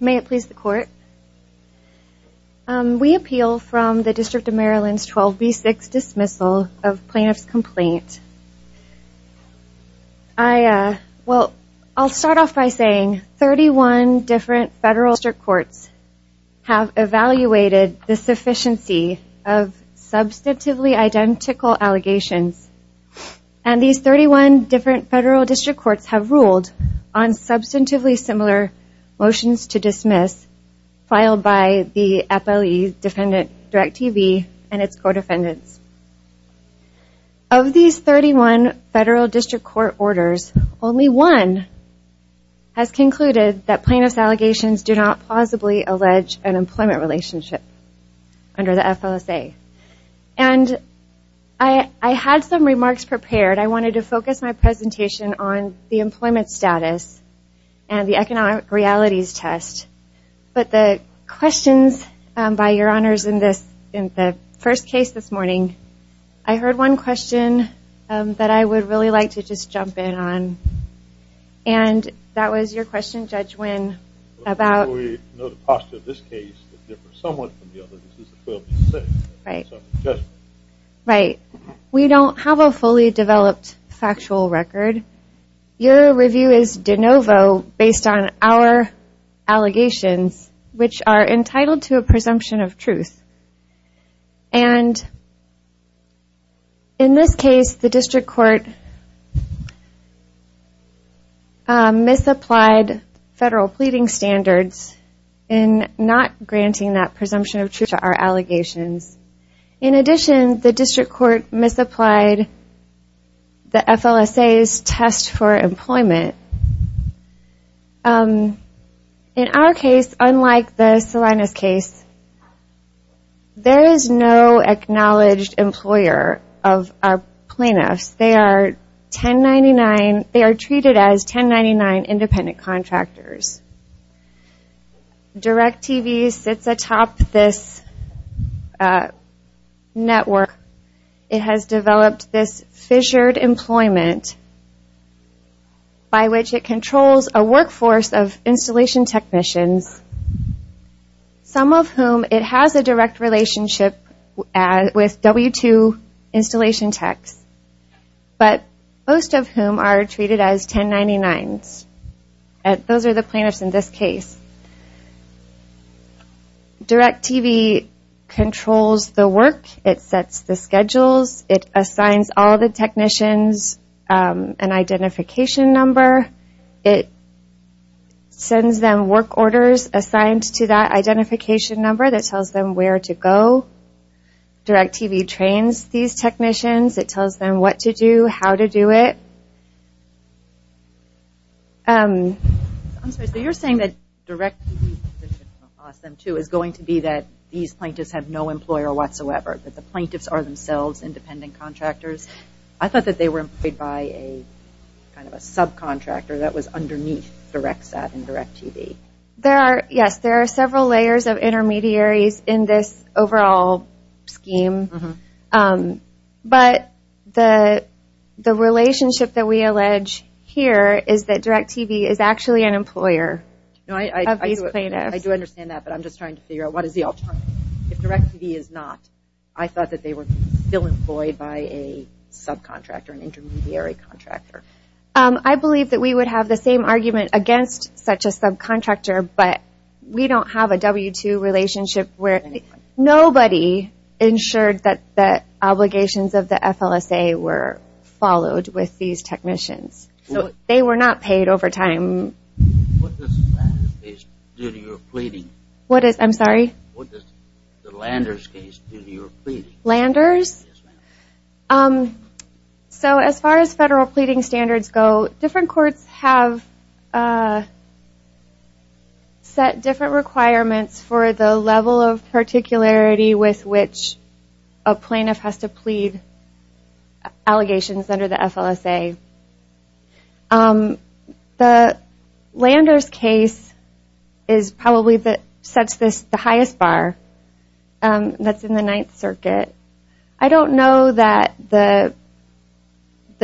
May it please the court. We appeal from the District of Maryland's 12B6 dismissal of plaintiff's complaint. Well, I'll start off by saying 31 different federal district courts have evaluated the sufficiency of substantively identical allegations and these 31 different federal district courts have ruled on substantively similar motions to dismiss filed by the FLE's defendant DIRECTV and its co-defendants. Of these 31 federal district court orders, only one has concluded that plaintiff's allegations do not plausibly allege an employment relationship under the FLSA. And I had some remarks prepared. I wanted to focus my presentation on the employment status and the economic realities test. But the questions by your honors in this in the first case this morning, I heard one question that I would really like to just jump in on and that was your question Judge Wynn about... We know the posture of this case is somewhat different from the other cases of 12B6. Right, we don't have a fully developed factual record. Your review is de novo based on our allegations which are entitled to a presumption of truth and in this case the district court misapplied federal pleading standards in not granting that presumption of truth to our allegations. In addition, the district court misapplied the FLSA's test for employment. In our case, unlike the Salinas case, there is no acknowledged employer of our plaintiffs. They are treated as 1099 independent contractors. DIRECTV sits atop this network. It has developed this fissured employment by which it controls a workforce of installation technicians, some of whom it has a direct relationship with W-2 installation techs, but most of whom are treated as 1099s. Those are the It assigns all the technicians an identification number. It sends them work orders assigned to that identification number that tells them where to go. DIRECTV trains these technicians. It tells them what to do, how to do it. You're saying that DIRECTV is going to be that these plaintiffs have no employer whatsoever. The plaintiffs are themselves independent contractors. I thought they were employed by a subcontractor that was underneath DIRECTV. There are several layers of intermediaries in this overall scheme, but the relationship that we allege here is that DIRECTV is actually an employer. I do understand that, but I'm just trying to figure out what is the alternative. If DIRECTV is not, I thought that they were still employed by a subcontractor, an intermediary contractor. I believe that we would have the same argument against such a subcontractor, but we don't have a W-2 relationship where nobody ensured that the obligations of the FLSA were followed with these technicians. So they were not paid over time. What does the Landers case do to your pleading? Landers? So as far as federal pleading standards go, different courts have set different requirements for the level of particularity with which a plaintiff has to plead allegations under the FLSA. The Landers case is probably the highest bar that's in the Ninth Circuit. I don't know that the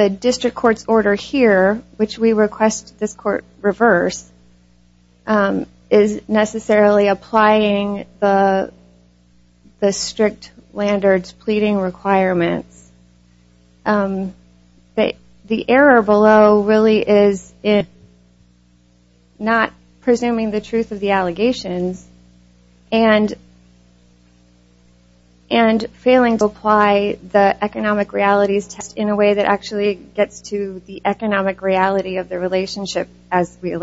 district court's order here, which we request this court reverse, is necessarily applying the strict Landers pleading requirements. The error below really is in not presuming the truth of the allegations and failing to apply the economic realities test in a way that actually gets to the economic reality of the relationship as we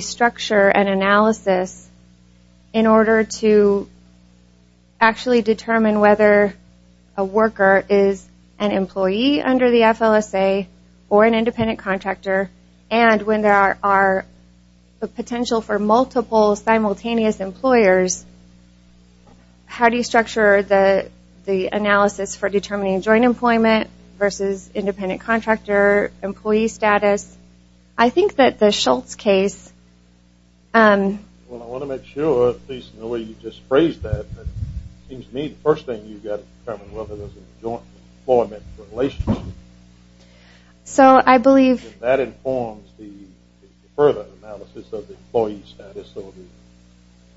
structure an analysis in order to actually determine whether a worker is an employee under the FLSA or an independent contractor, and when there are potential for multiple simultaneous employers, how do you structure the analysis for determining joint employment versus independent contractor employee status? I think that the Schultz case... Well, I want to make sure, at least in the way you just phrased that, that it seems to me the first thing you've got to determine whether there's a joint employment relationship. So I believe... That informs the further analysis of the employee status of the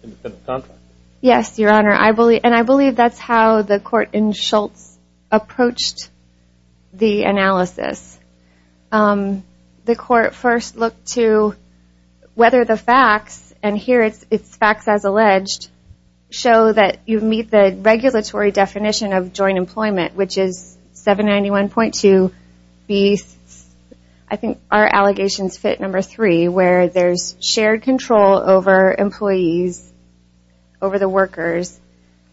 independent contractor. Yes, Your Honor, and I believe that's how the court in Schultz approached the analysis. The court first looked to whether the facts, and here it's facts as alleged, show that you meet the regulatory definition of joint employment, which is 791.2B, I think our allegations fit number three, where there's shared control over employees, over the workers.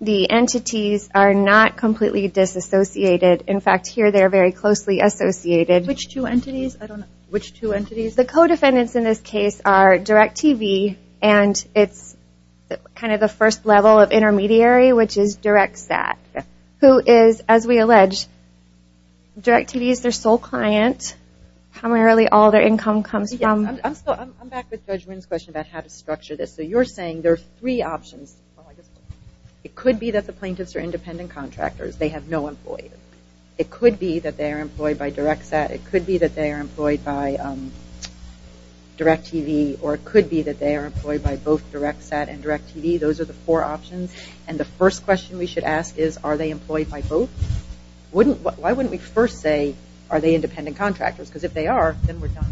The entities are not completely disassociated. In fact, here they're very closely associated. Which two entities? The co-defendants in this case are Direct TV, and it's kind of the first level of intermediary, which is DirectSAT, who is, as we allege, Direct TV is their sole client. Primarily, all their income comes from... I'm back with Judge Wynn's question about how to structure this. So you're saying there are three options. It could be that the plaintiffs are independent contractors. They have no employees. It could be that they are employed by DirectSAT. It could be that they are employed by Direct TV, or it could be that they are employed by both DirectSAT and Direct TV. Those are the four options, and the first question we should ask is, are they employed by both? Why wouldn't we first say, are they independent contractors? Because if they are, then we're done.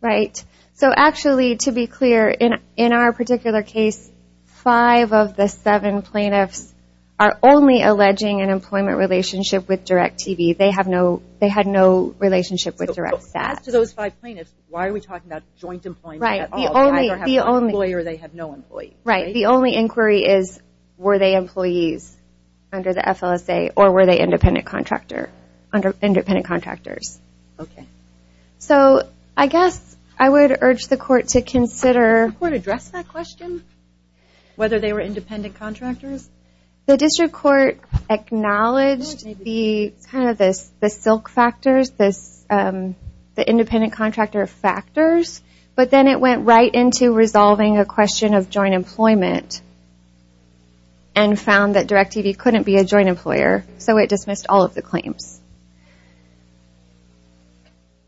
Right. So actually, to be clear, in our particular case, five of the seven plaintiffs are only alleging an employment relationship with Direct TV. They had no relationship with DirectSAT. As to those five plaintiffs, why are we talking about joint employment at all? They either have an employee or they have no employee. Right. The only inquiry is, were they employees under the FLSA, or were they independent contractors? Okay. So I guess I would urge the court to consider... Did the court address that question, whether they were independent contractors? The district court acknowledged kind of the silk factors, the independent contractor factors, but then it went right into resolving a question of joint employment and found that Direct TV couldn't be a joint employer, so it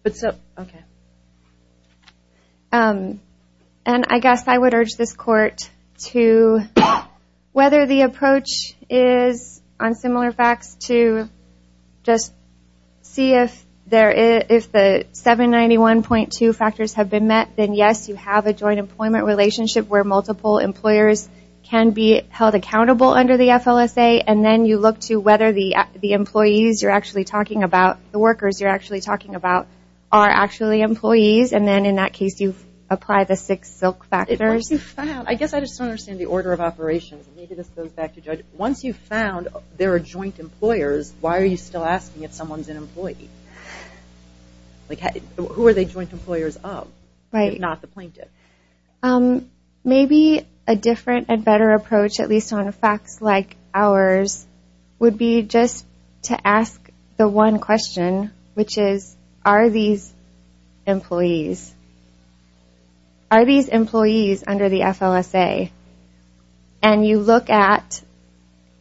But so, okay. And I guess I would urge this court to, whether the approach is on similar facts, to just see if there is, if the 791.2 factors have been met, then yes, you have a joint employment relationship where multiple employers can be held accountable under the FLSA, and then you look to whether the employees you're actually talking about, the workers you're actually talking about, are actually employees, and then in that case, you apply the six silk factors. I guess I just don't understand the order of operations. Maybe this goes back to Judge. Once you've found there are joint employers, why are you still asking if someone's an employee? Like, who are they joint employers of, if not the plaintiff? Maybe a different and better approach, at least on facts like ours, would be just to ask the one question, which is, are these employees? Are these employees under the FLSA? And you look at,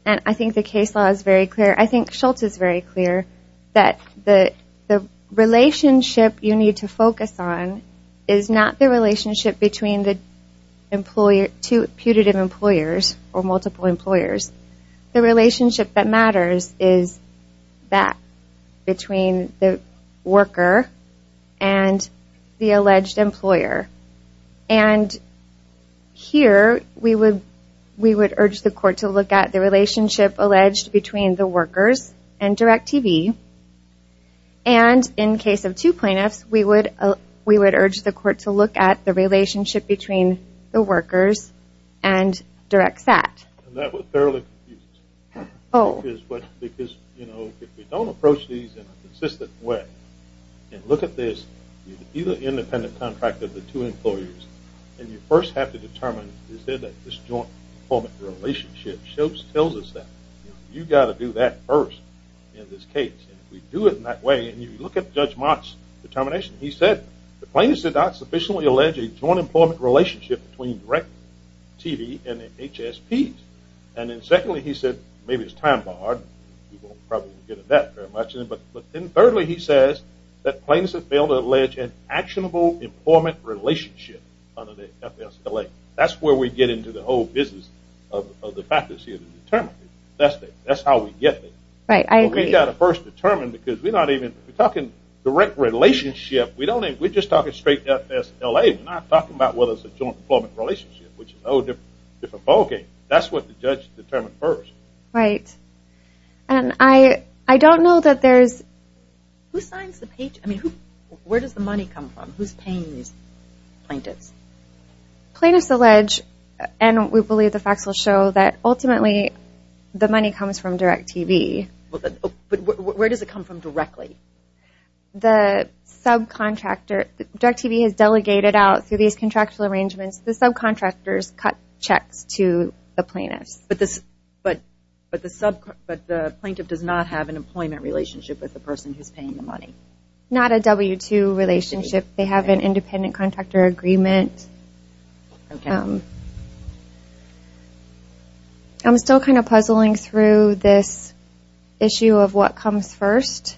and I think the case law is very clear, I think Schultz is very clear, that the relationship you need to focus on is not the relationship between the two putative employers or multiple employers. The relationship that is that between the worker and the alleged employer. And here we would urge the court to look at the relationship alleged between the workers and Direct TV, and in case of two plaintiffs, we would urge the court to look at the relationship between the workers and Direct Sat. That was fairly confusing. Because if we don't approach these in a consistent way, and look at this, you have an independent contract of the two employers, and you first have to determine, is there this joint employment relationship? Schultz tells us that. You've got to do that first in this case. And if we do it in that way, and you look at Judge Mott's determination, he said, the plaintiffs did not sufficiently allege a joint employment relationship between Direct TV and the HSPs. And then secondly, he said, maybe it's time barred, we won't probably get into that very much. But then thirdly, he says that plaintiffs have failed to allege an actionable employment relationship under the FSLA. That's where we get into the whole business of the practice here to determine. That's how we get there. We've got to first determine, because we're not even talking direct relationship, we're just talking straight FSLA. We're not talking about whether it's a joint employment relationship, which is a whole different ballgame. That's what the judge determined first. Right, and I don't know that there's... Who signs the page? I mean, where does the money come from? Who's paying these plaintiffs? Plaintiffs allege, and we believe the facts will show, that ultimately the money comes from Direct TV. But where does it come from directly? The subcontractor, Direct TV has delegated out, through these contractual arrangements, the subcontractors cut checks to the plaintiffs. But the sub, but the plaintiff does not have an employment relationship with the person who's paying the money? Not a W-2 relationship. They have an independent contractor agreement. I'm still kind of puzzling through this issue of what comes first,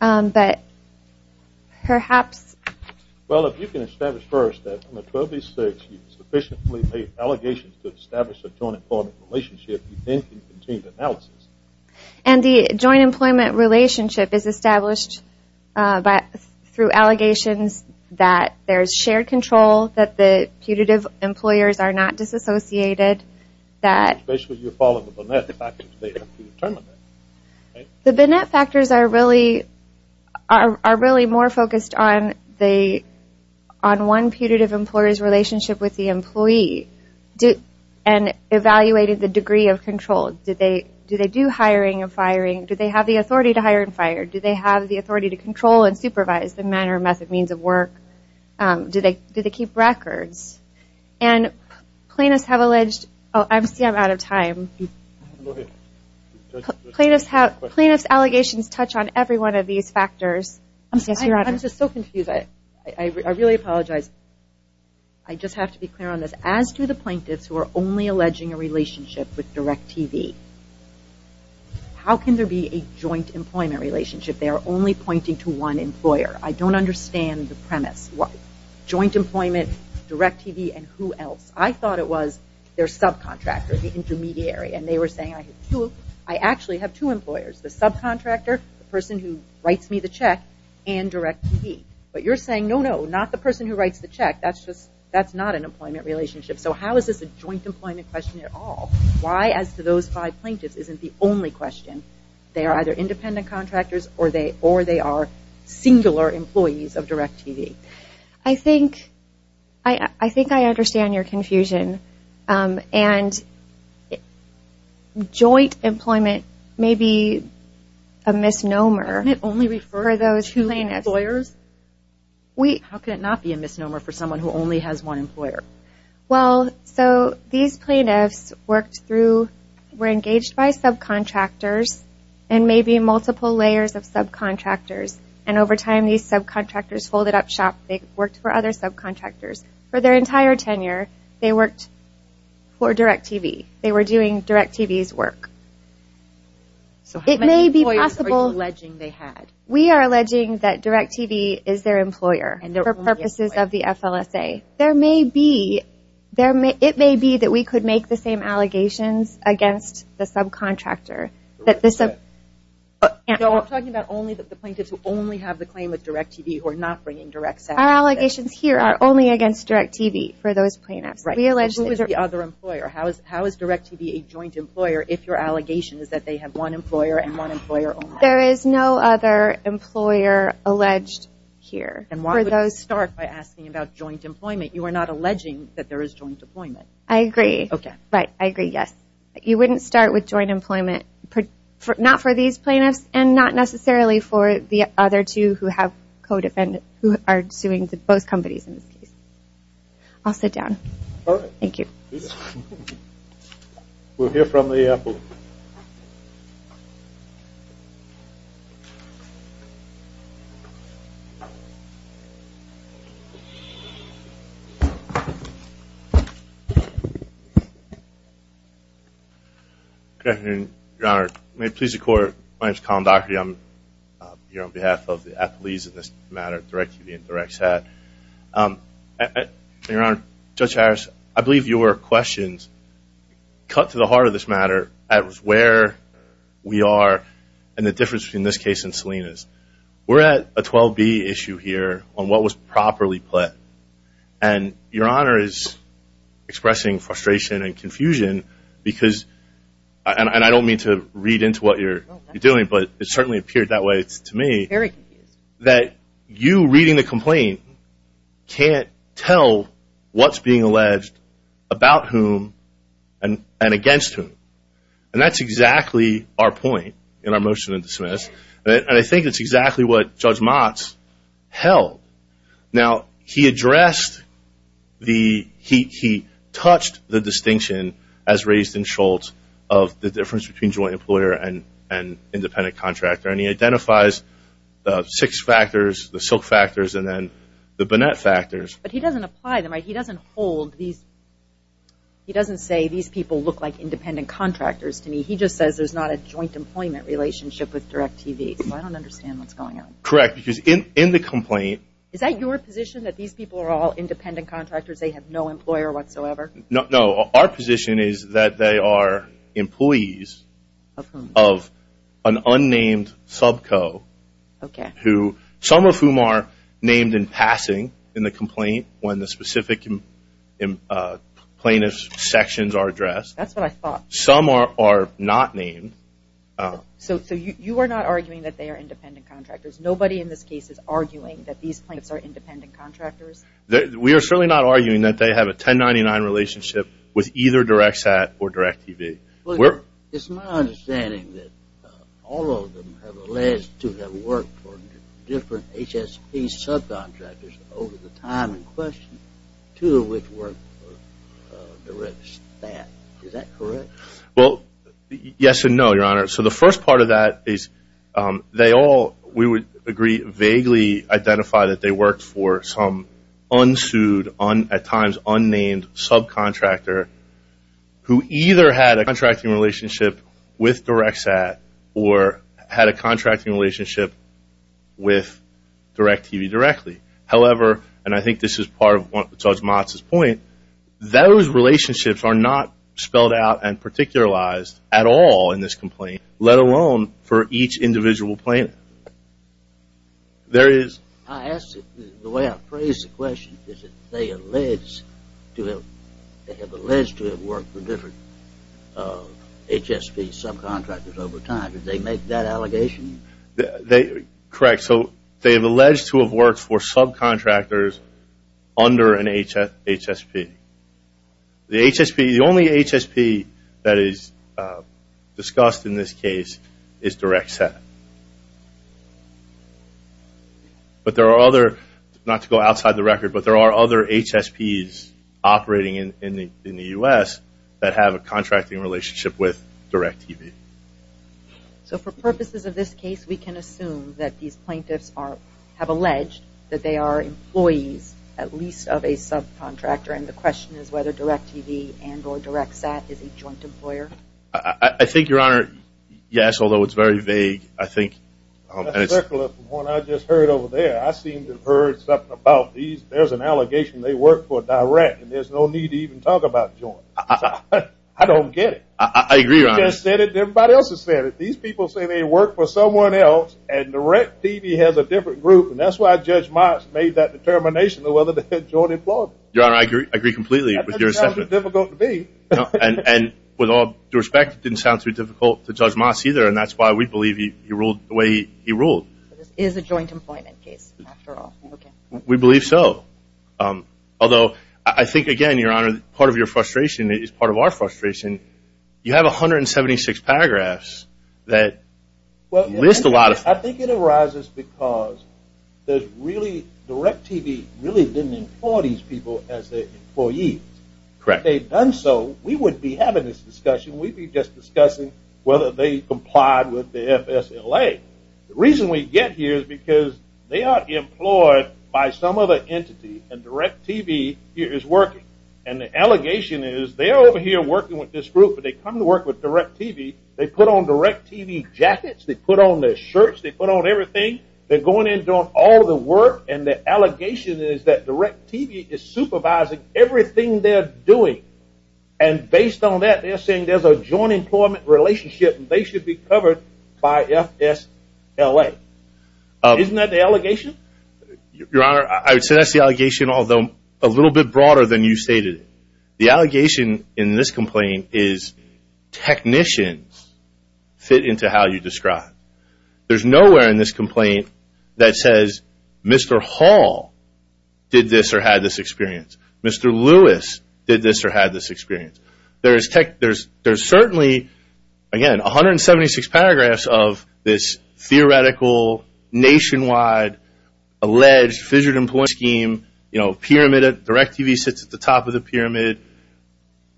but perhaps... Well, if you can establish first that from a 12-B-6, you sufficiently made allegations to establish a joint employment relationship, you then can continue the analysis. And the joint employment relationship is established by, through allegations that there's shared control, that the putative employers are not disassociated, that... Are really more focused on one putative employer's relationship with the employee, and evaluated the degree of control. Do they do hiring and firing? Do they have the authority to hire and fire? Do they have the authority to control and supervise the manner, method, means of work? Do they keep records? And plaintiffs have alleged... Oh, I see I'm out of time. Go ahead. Plaintiff's allegations touch on every one of these factors. I'm just so confused. I really apologize. I just have to be clear on this. As do the plaintiffs who are only alleging a relationship with DirecTV. How can there be a joint employment relationship? They are only pointing to one employer. I don't understand the premise. Joint employment, DirecTV, and who else? I thought it was their subcontractor, the intermediary. And they were saying, I have two. I actually have two employers. The subcontractor, the person who writes me the check, and DirecTV. But you're saying, no, no, not the person who writes the check. That's just, that's not an employment relationship. So how is this a joint employment question at all? Why, as to those five plaintiffs, isn't the only question? They are either independent contractors, or they are singular employees of DirecTV. I think, I think I understand your confusion. And joint employment may be a misnomer. Doesn't it only refer to two employers? How can it not be a misnomer for someone who only has one employer? Well, so these plaintiffs worked through, were engaged by subcontractors, and maybe multiple layers of subcontractors. And over time, these subcontractors folded up shop. They worked for other subcontractors. For their entire tenure, they worked for DirecTV. They were doing DirecTV's work. So how many employees are you alleging they had? We are alleging that DirecTV is their employer, for purposes of the FLSA. There may be, it may be that we could make the allegations against the subcontractor. I'm talking about only the plaintiffs who only have the claim with DirecTV, who are not bringing DirecTV. Our allegations here are only against DirecTV for those plaintiffs. Who is the other employer? How is DirecTV a joint employer, if your allegation is that they have one employer and one employer only? There is no other employer alleged here. And why don't we start by asking about joint employment? You are not alleging that there is joint employment. I agree. Okay. Right. I agree. Yes. You wouldn't start with joint employment, not for these plaintiffs, and not necessarily for the other two who have co-defendants, who are suing both companies in this case. I'll sit down. All right. Thank you. Yes. We'll hear from the appellate. Good afternoon, Your Honor. May it please the Court, my name is Colin Docherty. I'm here on behalf of the appellees in this matter, DirecTV and DirecTSAT. Your Honor, Judge Harris, I believe your questions cut to the heart of this matter, at where we are and the difference between this case and Selina's. We're at a 12B issue here on what was properly pled. And Your Honor is expressing frustration and confusion because, and I don't mean to read into what you're doing, but it certainly appeared that way to me, that you reading the complaint can't tell what's being alleged about whom and against whom. And that's exactly our point in our motion to dismiss. And I think that's exactly what Judge Motz held. Now, he addressed the, he touched the distinction as raised in Schultz of the independent contractor. And he identifies the six factors, the silk factors, and then the Burnett factors. But he doesn't apply them, right? He doesn't hold these, he doesn't say these people look like independent contractors to me. He just says there's not a joint employment relationship with DirecTV. So I don't understand what's going on. Correct. Because in the complaint. Is that your position that these people are all independent contractors? They have no employer whatsoever? No. Our position is that they are employees of an unnamed subco. Okay. Who, some of whom are named in passing in the complaint when the specific plaintiff's sections are addressed. That's what I thought. Some are not named. So you are not arguing that they are independent contractors? Nobody in this case is arguing that these plaintiffs are independent contractors? We are certainly not arguing that they have a 1099 relationship with either DirecTSAT or DirecTV. Well, it's my understanding that all of them have alleged to have worked for different HSP subcontractors over the time in question. Two of which work for DirecTSAT. Is that correct? Well, yes and no, your honor. So the first part of that is they all, we would agree, vaguely identify that they worked for some at times unnamed subcontractor who either had a contracting relationship with DirecTSAT or had a contracting relationship with DirecTV directly. However, and I think this is part of Judge Motz's point, those relationships are not spelled out and particularized at all in this complaint, let alone for each individual plaintiff. I asked the way I phrased the question, is that they have alleged to have worked for different HSP subcontractors over time. Did they make that allegation? Correct. So they have alleged to have worked for subcontractors under an HSP. The only HSP that is discussed in this case is DirecTSAT. But there are other, not to go outside the record, but there are other HSPs operating in the U.S. that have a contracting relationship with DirecTV. So for purposes of this case, we can assume that these plaintiffs have alleged that they are employees at least of a subcontractor and the question is whether DirecTV and or DirecTSAT is a joint employer? I think, your honor, yes, although it's very vague, I think. From what I just heard over there, I seem to have heard something about these, there's an allegation they work for DirecTV and there's no need to even talk about joint. I don't get it. I agree, your honor. Everybody else has said it. These people say they work for someone else and DirecTV has a different group and that's why Judge Moss made that determination to whether they're joint employment. Your honor, I agree completely with your assessment. Difficult to be. And with all due respect, it didn't sound too difficult to Judge Moss either and that's why we believe he ruled the way he ruled. This is a joint employment case after all. We believe so. Although, I think, again, your honor, part of your frustration is part of our frustration. You have 176 paragraphs that list a lot of... I think it arises because there's really, DirecTV really didn't employ these people as their employees. Correct. If they'd done so, we wouldn't be having this discussion. We'd be just discussing whether they complied with the by some other entity and DirecTV is working. And the allegation is they're over here working with this group but they come to work with DirecTV. They put on DirecTV jackets. They put on their shirts. They put on everything. They're going in and doing all the work and the allegation is that DirecTV is supervising everything they're doing. And based on that, they're saying there's a joint employment relationship and they should be covered by FSLA. Isn't that the allegation? Your honor, I would say that's the allegation although a little bit broader than you stated. The allegation in this complaint is technicians fit into how you describe. There's nowhere in this complaint that says Mr. Hall did this or had this experience. Mr. Lewis did this or had this experience. There's certainly, again, 176 paragraphs of this theoretical nationwide alleged fissured employment scheme. You know, DirecTV sits at the top of the pyramid.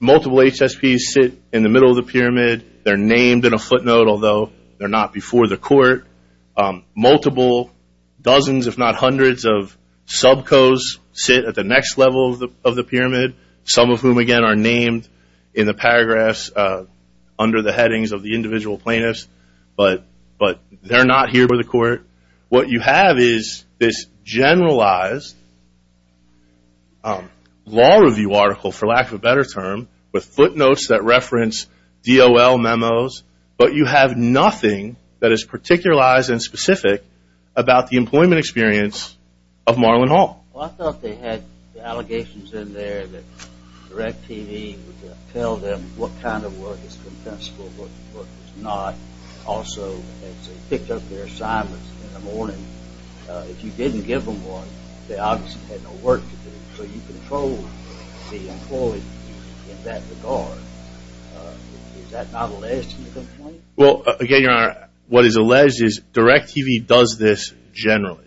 Multiple HSPs sit in the middle of the pyramid. They're named in a footnote although they're not before the court. Multiple, dozens if not hundreds of subcos sit at the next level of the pyramid, some of whom again are named in the paragraphs under the headings of the individual plaintiffs but they're not here before the court. What you have is this generalized law review article, for lack of a better term, with footnotes that reference DOL memos, but you have nothing that is particularized and specific about the employment experience of Marlon Hall. Well, I thought they had the allegations in there that DirecTV would tell them what kind of work is compensable but what is not. Also, as they picked up their assignments in the morning, if you didn't give them one, they obviously had no work to do. So you control the employee in that regard. Is that not alleged in the complaint? Well, again, Your Honor, what is alleged is DirecTV does this generally.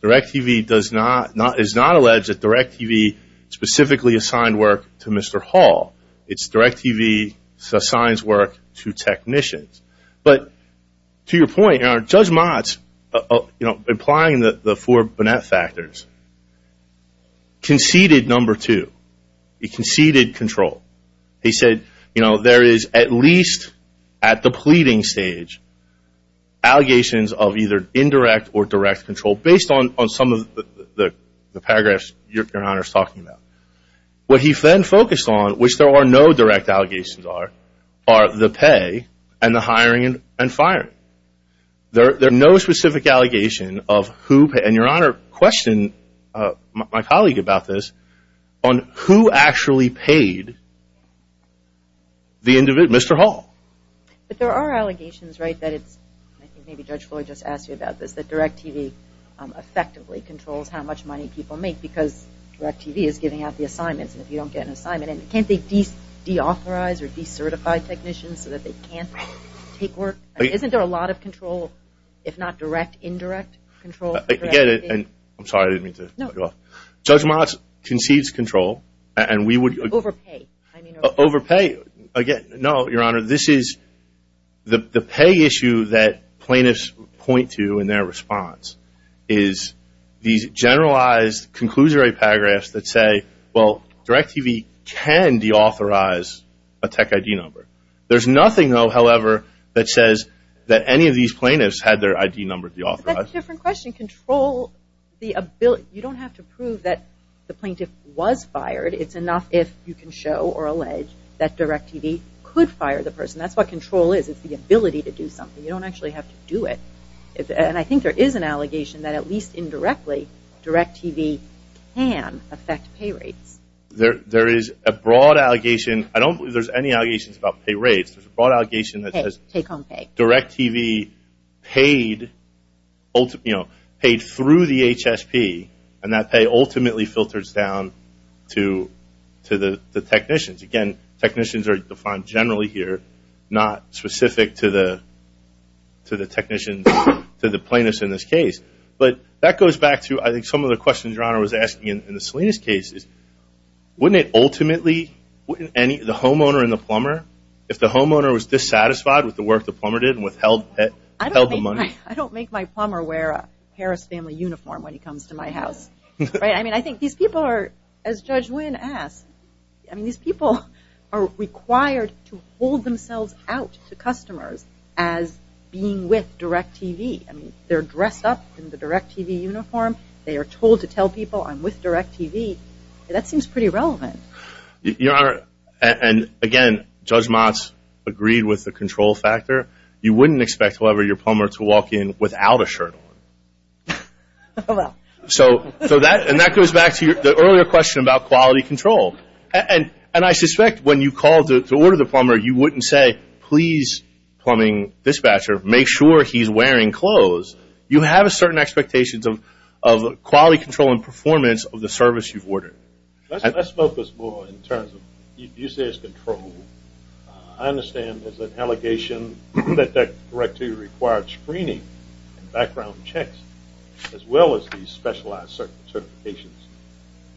DirecTV does not, is not alleged that DirecTV specifically assigned work to Mr. Hall. It's DirecTV that assigns work to technicians. But to your point, Judge Motz, you know, implying the four Burnett factors, conceded number two. He conceded control. He said, you know, there is at least at the pleading stage allegations of either indirect or direct control based on some of the paragraphs Your Honor is What he then focused on, which there are no direct allegations are, are the pay and the hiring and firing. There are no specific allegations of who, and Your Honor, question my colleague about this, on who actually paid the individual, Mr. Hall. But there are allegations, right, that it's, I think maybe Judge Floyd just asked you about this, that DirecTV effectively controls how much money people make because DirecTV is giving out the assignments, and if you don't get an assignment, and can't they deauthorize or decertify technicians so that they can't take work? Isn't there a lot of control, if not direct, indirect control? I get it, and I'm sorry, I didn't mean to cut you off. Judge Motz concedes control, and we would... Overpay. Overpay. Again, no, Your Honor, this is, the pay issue that plaintiffs point to in their response is these generalized, conclusory paragraphs that say, well, DirecTV can deauthorize a tech ID number. There's nothing, though, however, that says that any of these plaintiffs had their ID number deauthorized. That's a different question. Control the ability, you don't have to prove that the plaintiff was fired. It's enough if you can show or allege that DirecTV could fire the person. That's what control is. It's the ability to do something. You don't actually have to do it. And I think there is an allegation that, at least indirectly, DirecTV can affect pay rates. There is a broad allegation. I don't believe there's any allegations about pay rates. There's a broad allegation that says DirecTV paid through the HSP, and that pay ultimately filters down to the technicians. Again, technicians are defined generally here, not specific to the to the plaintiffs in this case. But that goes back to, I think, some of the questions your Honor was asking in the Salinas case. Wouldn't it ultimately, wouldn't the homeowner and the plumber, if the homeowner was dissatisfied with the work the plumber did and withheld the money? I don't make my plumber wear a Harris family uniform when he comes to my house. I mean, I think these people are, as Judge Wynn asked, these people are required to hold themselves out to customers as being with DirecTV. I mean, they're dressed up in the DirecTV uniform. They are told to tell people, I'm with DirecTV. That seems pretty relevant. Your Honor, and again, Judge Motz agreed with the control factor. You wouldn't expect, however, your plumber to walk in without a shirt on. So that, and that goes back to the earlier question about quality control. And I suspect when you call to order the plumber, you wouldn't say, please plumbing dispatcher, make sure he's wearing clothes. You have a certain expectations of quality control and performance of the service you've ordered. Let's focus more in terms of use as control. I understand there's an allegation that DirecTV required screening and background checks as well as these specialized certifications.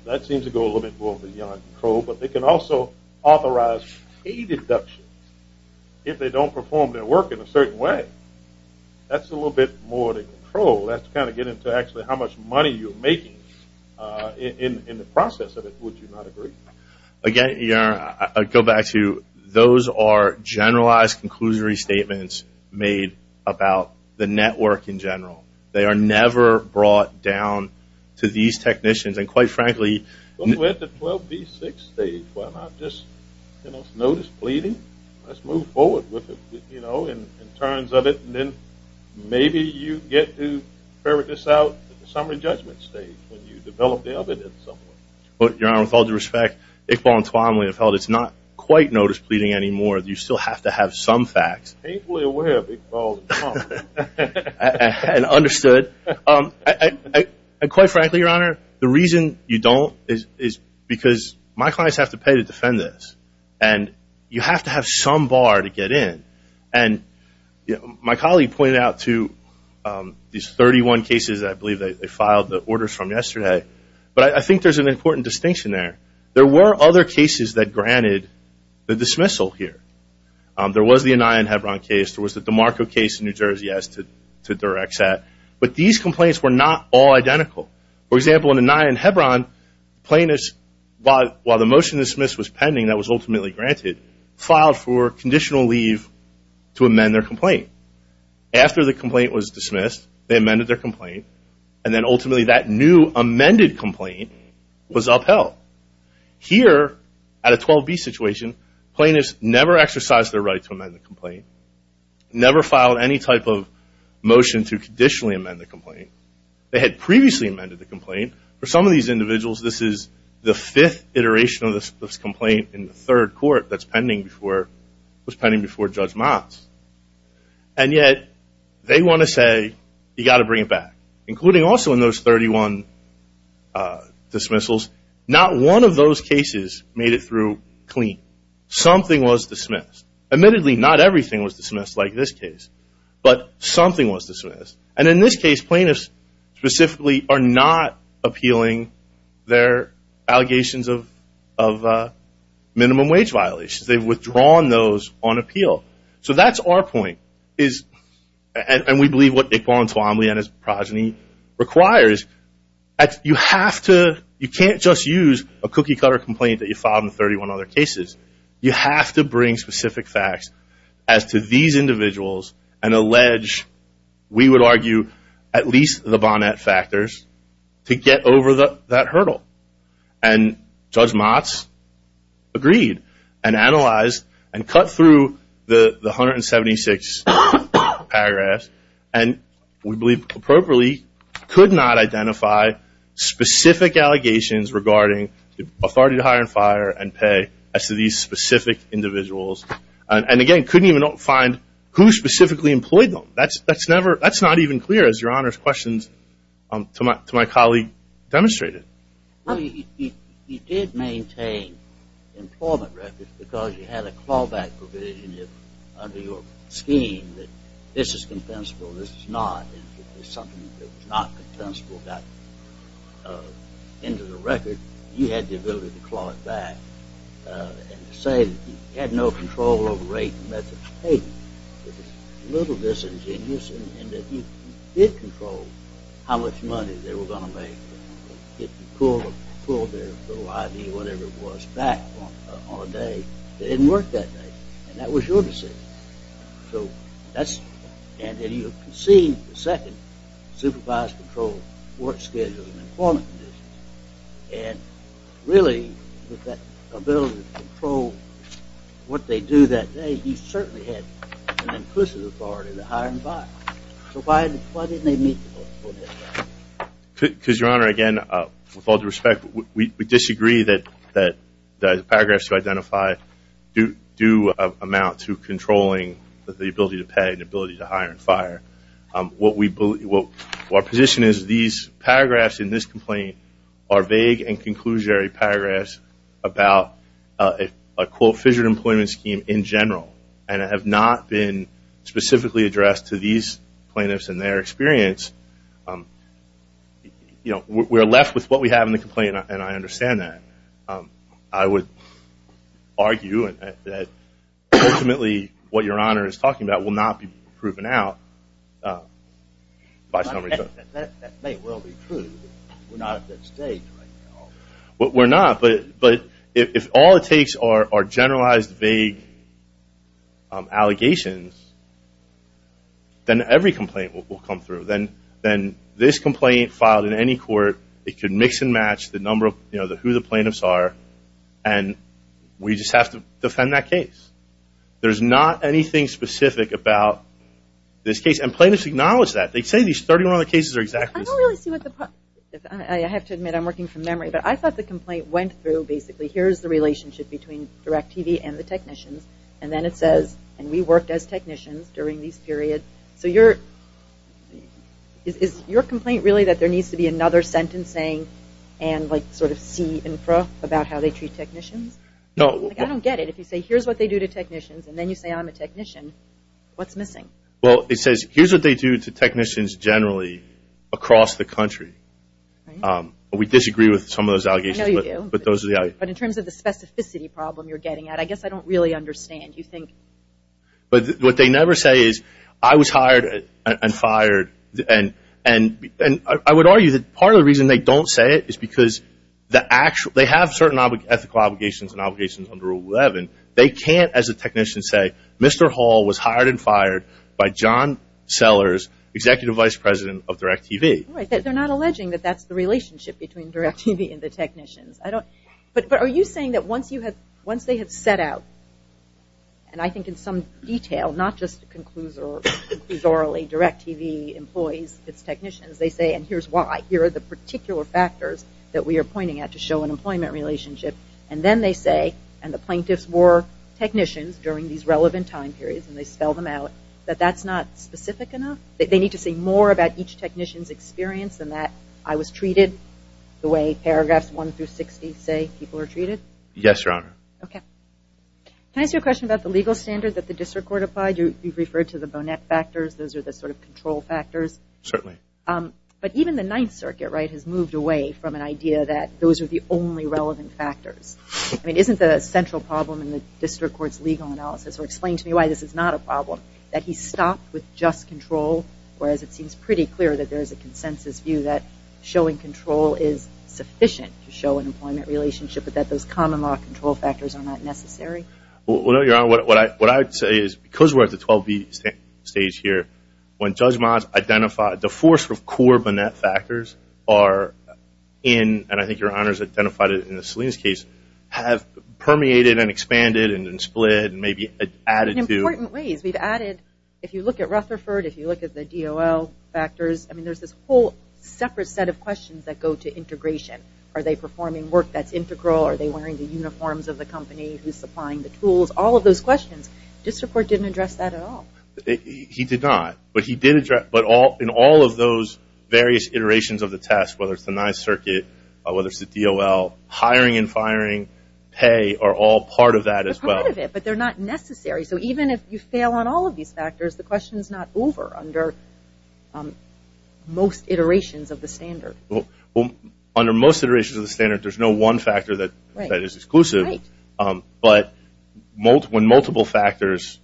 That seems to go a little bit beyond control, but they can also authorize pay deductions if they don't perform their work in a certain way. That's a little bit more to control. That's kind of getting to actually how much money you're making in the process of it, would you not agree? Again, your Honor, I'd go back to those are generalized conclusory statements made about the network in general. They are never brought down to these technicians. And quite frankly, at the 12B6 stage, why not just notice pleading? Let's move forward with it, you know, in terms of it. And then maybe you get to ferret this out at the summary judgment stage when you develop the evidence somewhat. Your Honor, with all due respect, Iqbal and Twan, we have held it's not quite notice pleading anymore. You still have to have some facts. And understood. And quite frankly, your Honor, the reason you don't is because my clients have to pay to defend this. And you have to have some bar to get in. And my colleague pointed out to these 31 cases, I believe they filed the orders from yesterday, but I think there's an important distinction there. There were other cases that granted the dismissal here. There was the Anaya and Hebron case. There was the DeMarco case in New Jersey as to direct that. But these complaints were not all identical. For example, in Anaya and Hebron, plaintiffs, while the motion to dismiss was pending, that was ultimately granted, filed for conditional leave to amend their complaint. After the complaint was dismissed, they amended their complaint. And then ultimately that new amended complaint was upheld. Here, at a 12B situation, plaintiffs never exercised their right to amend the complaint. Never filed any type of motion to conditionally amend the complaint. They had previously amended the complaint. For some of these individuals, this is the fifth iteration of this complaint in the third court that was pending before Judge Mott's. And yet, they want to say, you got to bring it back. Including also in those 31 dismissals, not one of those cases made it through clean. Something was dismissed. Admittedly, not everything was dismissed like this case, but something was dismissed. And in this case, plaintiffs specifically are not appealing their allegations of minimum wage violations. They've withdrawn those on appeal. So that's our point. And we believe what Iqbal Antawamli and his progeny requires. You can't just use a cookie-cutter complaint that you filed in 31 other cases. You have to bring specific facts as to these individuals and allege, we would argue, at least the Bonnett factors to get over that hurdle. And Judge Mott's agreed and analyzed and cut through the 176 paragraphs and we believe appropriately could not identify specific allegations regarding authority to hire and fire and pay as to these specific individuals. And again, couldn't even find who specifically employed them. That's not even clear, as your Honor's questions to my colleague demonstrated. Well, he did maintain employment records because he had a clawback provision under your scheme that this is compensable, this is not. If something that was not compensable got into the record, you had the ability to claw it back. And to say that he had no control over rate and method of pay was a little disingenuous in that he did control how much money they were going to make. If you pulled their little ID or whatever it was back on a day, it didn't work that day. And that was your decision. So that's, and then you can see the second supervised control work schedule and employment conditions. And really with that ability to control what they do that day, he certainly had an inclusive authority to hire and fire. So why didn't they meet? Because your Honor, again, with all due respect, we disagree that the paragraphs to identify do amount to controlling the ability to pay, the ability to hire and fire. What we believe, what our position is, these paragraphs in this complaint are vague and have not been specifically addressed to these plaintiffs and their experience. You know, we're left with what we have in the complaint and I understand that. I would argue that ultimately what your Honor is talking about will not be proven out by some reason. That may well be true. We're not at that stage right now. We're not. But if all it takes are generalized, vague allegations, then every complaint will come through. Then this complaint filed in any court, it could mix and match the number of, you know, who the plaintiffs are and we just have to defend that case. There's not anything specific about this case. And plaintiffs acknowledge that. They say these 31 other cases are exactly the same. I have to admit I'm working from memory, but I thought the complaint went through basically here's the relationship between DirecTV and the technicians and then it says, and we worked as technicians during this period. So your, is your complaint really that there needs to be another sentencing and like sort of see info about how they treat technicians? No. I don't get it. If you say here's what they do to technicians and then you say I'm a technician, what's missing? Well, it says here's what they do to technicians generally across the country. We disagree with some of those allegations. I know you do. But those are the... But in terms of the specificity problem you're getting at, I guess I don't really understand. You think... But what they never say is I was hired and fired and I would argue that part of the reason they don't say it is because the actual, they have certain ethical obligations and obligations under Rule 11. They can't as a technician say, Mr. Hall was hired and fired by John Sellers, Executive Vice President of DirecTV. They're not alleging that that's the relationship between DirecTV and the technicians. I don't... But are you saying that once you have, once they have set out, and I think in some detail, not just conclusorially, DirecTV employees, its technicians, they say and here's why. Here are the particular factors that we and the plaintiffs were technicians during these relevant time periods, and they spell them out, that that's not specific enough? They need to say more about each technician's experience than that I was treated the way paragraphs one through 60 say people are treated? Yes, Your Honor. Okay. Can I ask you a question about the legal standard that the district court applied? You've referred to the bonnet factors. Those are the sort of control factors. Certainly. But even the Ninth Circuit, right, has moved away from an idea that those are the only relevant factors. I mean, isn't the central problem in the district court's legal analysis, or explain to me why this is not a problem, that he stopped with just control, whereas it seems pretty clear that there is a consensus view that showing control is sufficient to show an employment relationship, but that those common law control factors are not necessary? Well, no, Your Honor. What I would say is because we're at the 12B stage here, when Judge Miles identified the four sort of core bonnet factors are in, and I think Your Honor has identified it in the Salinas case, have permeated and expanded and then split and maybe added to... In important ways. We've added, if you look at Rutherford, if you look at the DOL factors, I mean, there's this whole separate set of questions that go to integration. Are they performing work that's integral? Are they wearing the uniforms of the company who's supplying the tools? All of those questions, district court didn't address that at all. He did not, but he did address, but in all of those various iterations of the test, whether it's the 9th Circuit, whether it's the DOL, hiring and firing, pay are all part of that as well. They're part of it, but they're not necessary. So even if you fail on all of these factors, the question's not over under most iterations of the standard. Well, under most iterations of the standard, there's no one factor that is exclusive, but when multiple factors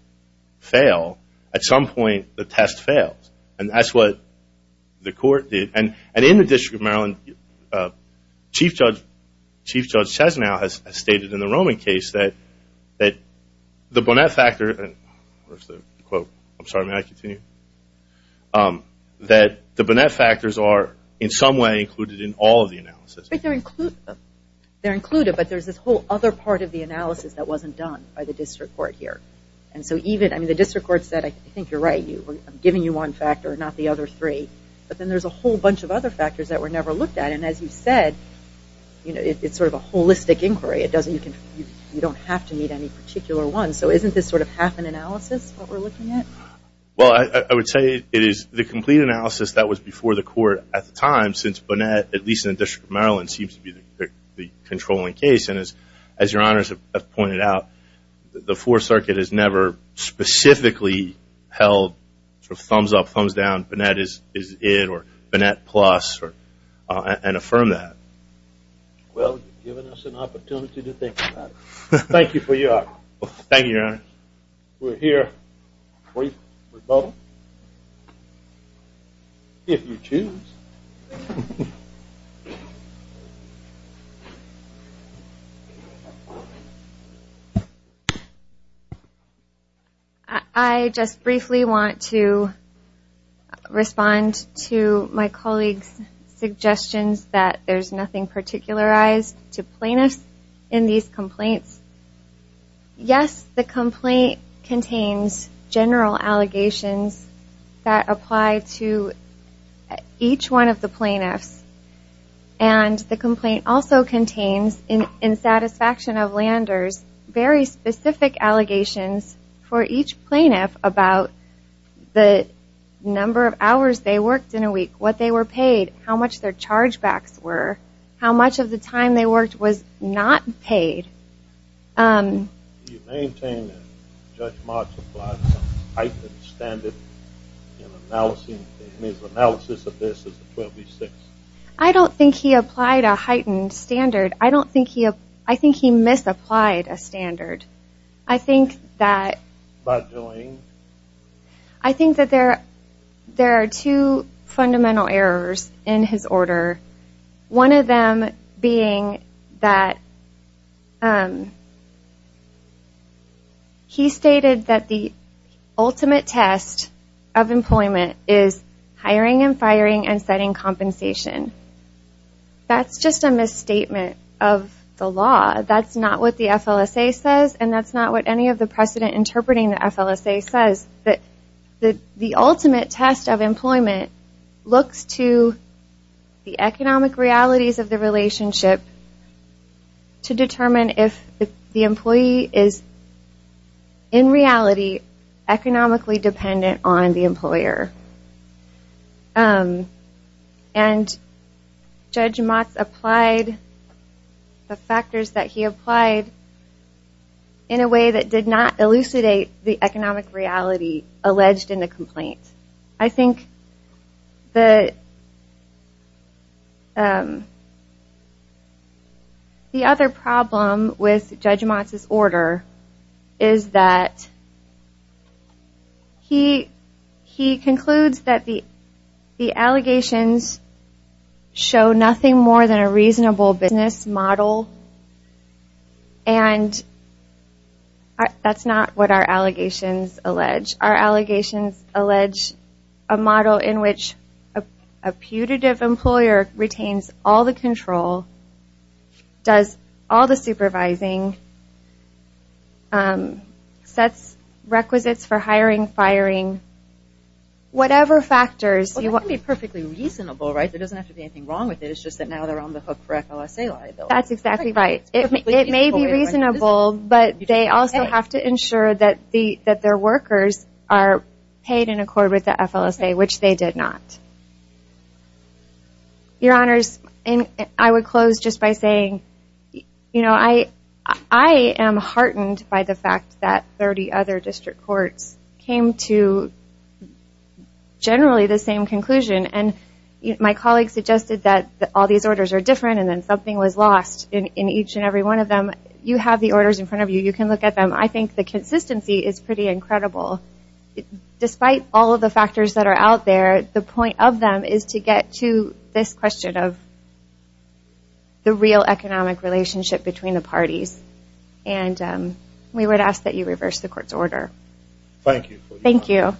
fail, at some point the test fails, and that's what the court did. And in the District of Maryland, Chief Judge Chesnow has stated in the Roman case that the Burnett factor, and where's the quote? I'm sorry, may I continue? That the Burnett factors are in some way included in all of the analysis. They're included, but there's this whole other part of the analysis that wasn't done by the district court here. And so even, I mean, the district court said, I think you're right, I'm giving you one factor, not the other three. But then there's a whole bunch of other factors that were never looked at. And as you said, it's sort of a holistic inquiry. You don't have to need any particular one. So isn't this sort of half an analysis, what we're looking at? Well, I would say it is the complete analysis that was before the court at the time, since Burnett, at least in the District of Maryland, seems to be the controlling case. As your honors have pointed out, the Fourth Circuit has never specifically held thumbs up, thumbs down, Burnett is it, or Burnett plus, and affirmed that. Well, you've given us an opportunity to think about it. Thank you for your honor. Thank you, your honor. We'll hear briefly from both, if you choose. I just briefly want to respond to my colleague's suggestions that there's nothing particularized to plaintiffs in these complaints. Yes, the complaint contains general allegations that apply to each one of the plaintiffs. And the complaint also contains, in satisfaction of Landers, very specific allegations for each plaintiff about the number of hours they worked in a week, what they were paid, how much their chargebacks were, how much of the time they worked was not paid. Do you maintain that Judge Marks applied a heightened standard in his analysis of this as a 12B6? I don't think he applied a heightened standard. I think he misapplied a few fundamental errors in his order. One of them being that he stated that the ultimate test of employment is hiring and firing and setting compensation. That's just a misstatement of the law. That's not what the FLSA says, and that's not what any of the precedent interpreting the FLSA says. The ultimate test of employment looks to the economic realities of the relationship to determine if the employee is, in reality, economically dependent on the employer. And Judge Marks applied the factors that he applied in a way that did not elucidate the economic reality alleged in the complaint. I think the other problem with Judge Marks' order is that he concludes that the allegations show nothing more than a reasonable business model, and that's not what our allegations allege. Our allegations allege a model in which a putative company sets requisites for hiring, firing, whatever factors. Well, that can be perfectly reasonable, right? There doesn't have to be anything wrong with it. It's just that now they're on the hook for FLSA liability. That's exactly right. It may be reasonable, but they also have to ensure that their workers are paid in accord with the FLSA, which they did not. Your Honors, I would close just by saying, you know, I am heartened by the fact that 30 other district courts came to generally the same conclusion, and my colleague suggested that all these orders are different, and then something was lost in each and every one of them. You have the orders in front of you. You can look at them. I think the consistency is pretty incredible. Despite all of the factors that are out there, the point of them is to get to this question of the real economic relationship between the parties, and we would ask that you reverse the court's order. Thank you. Thank you.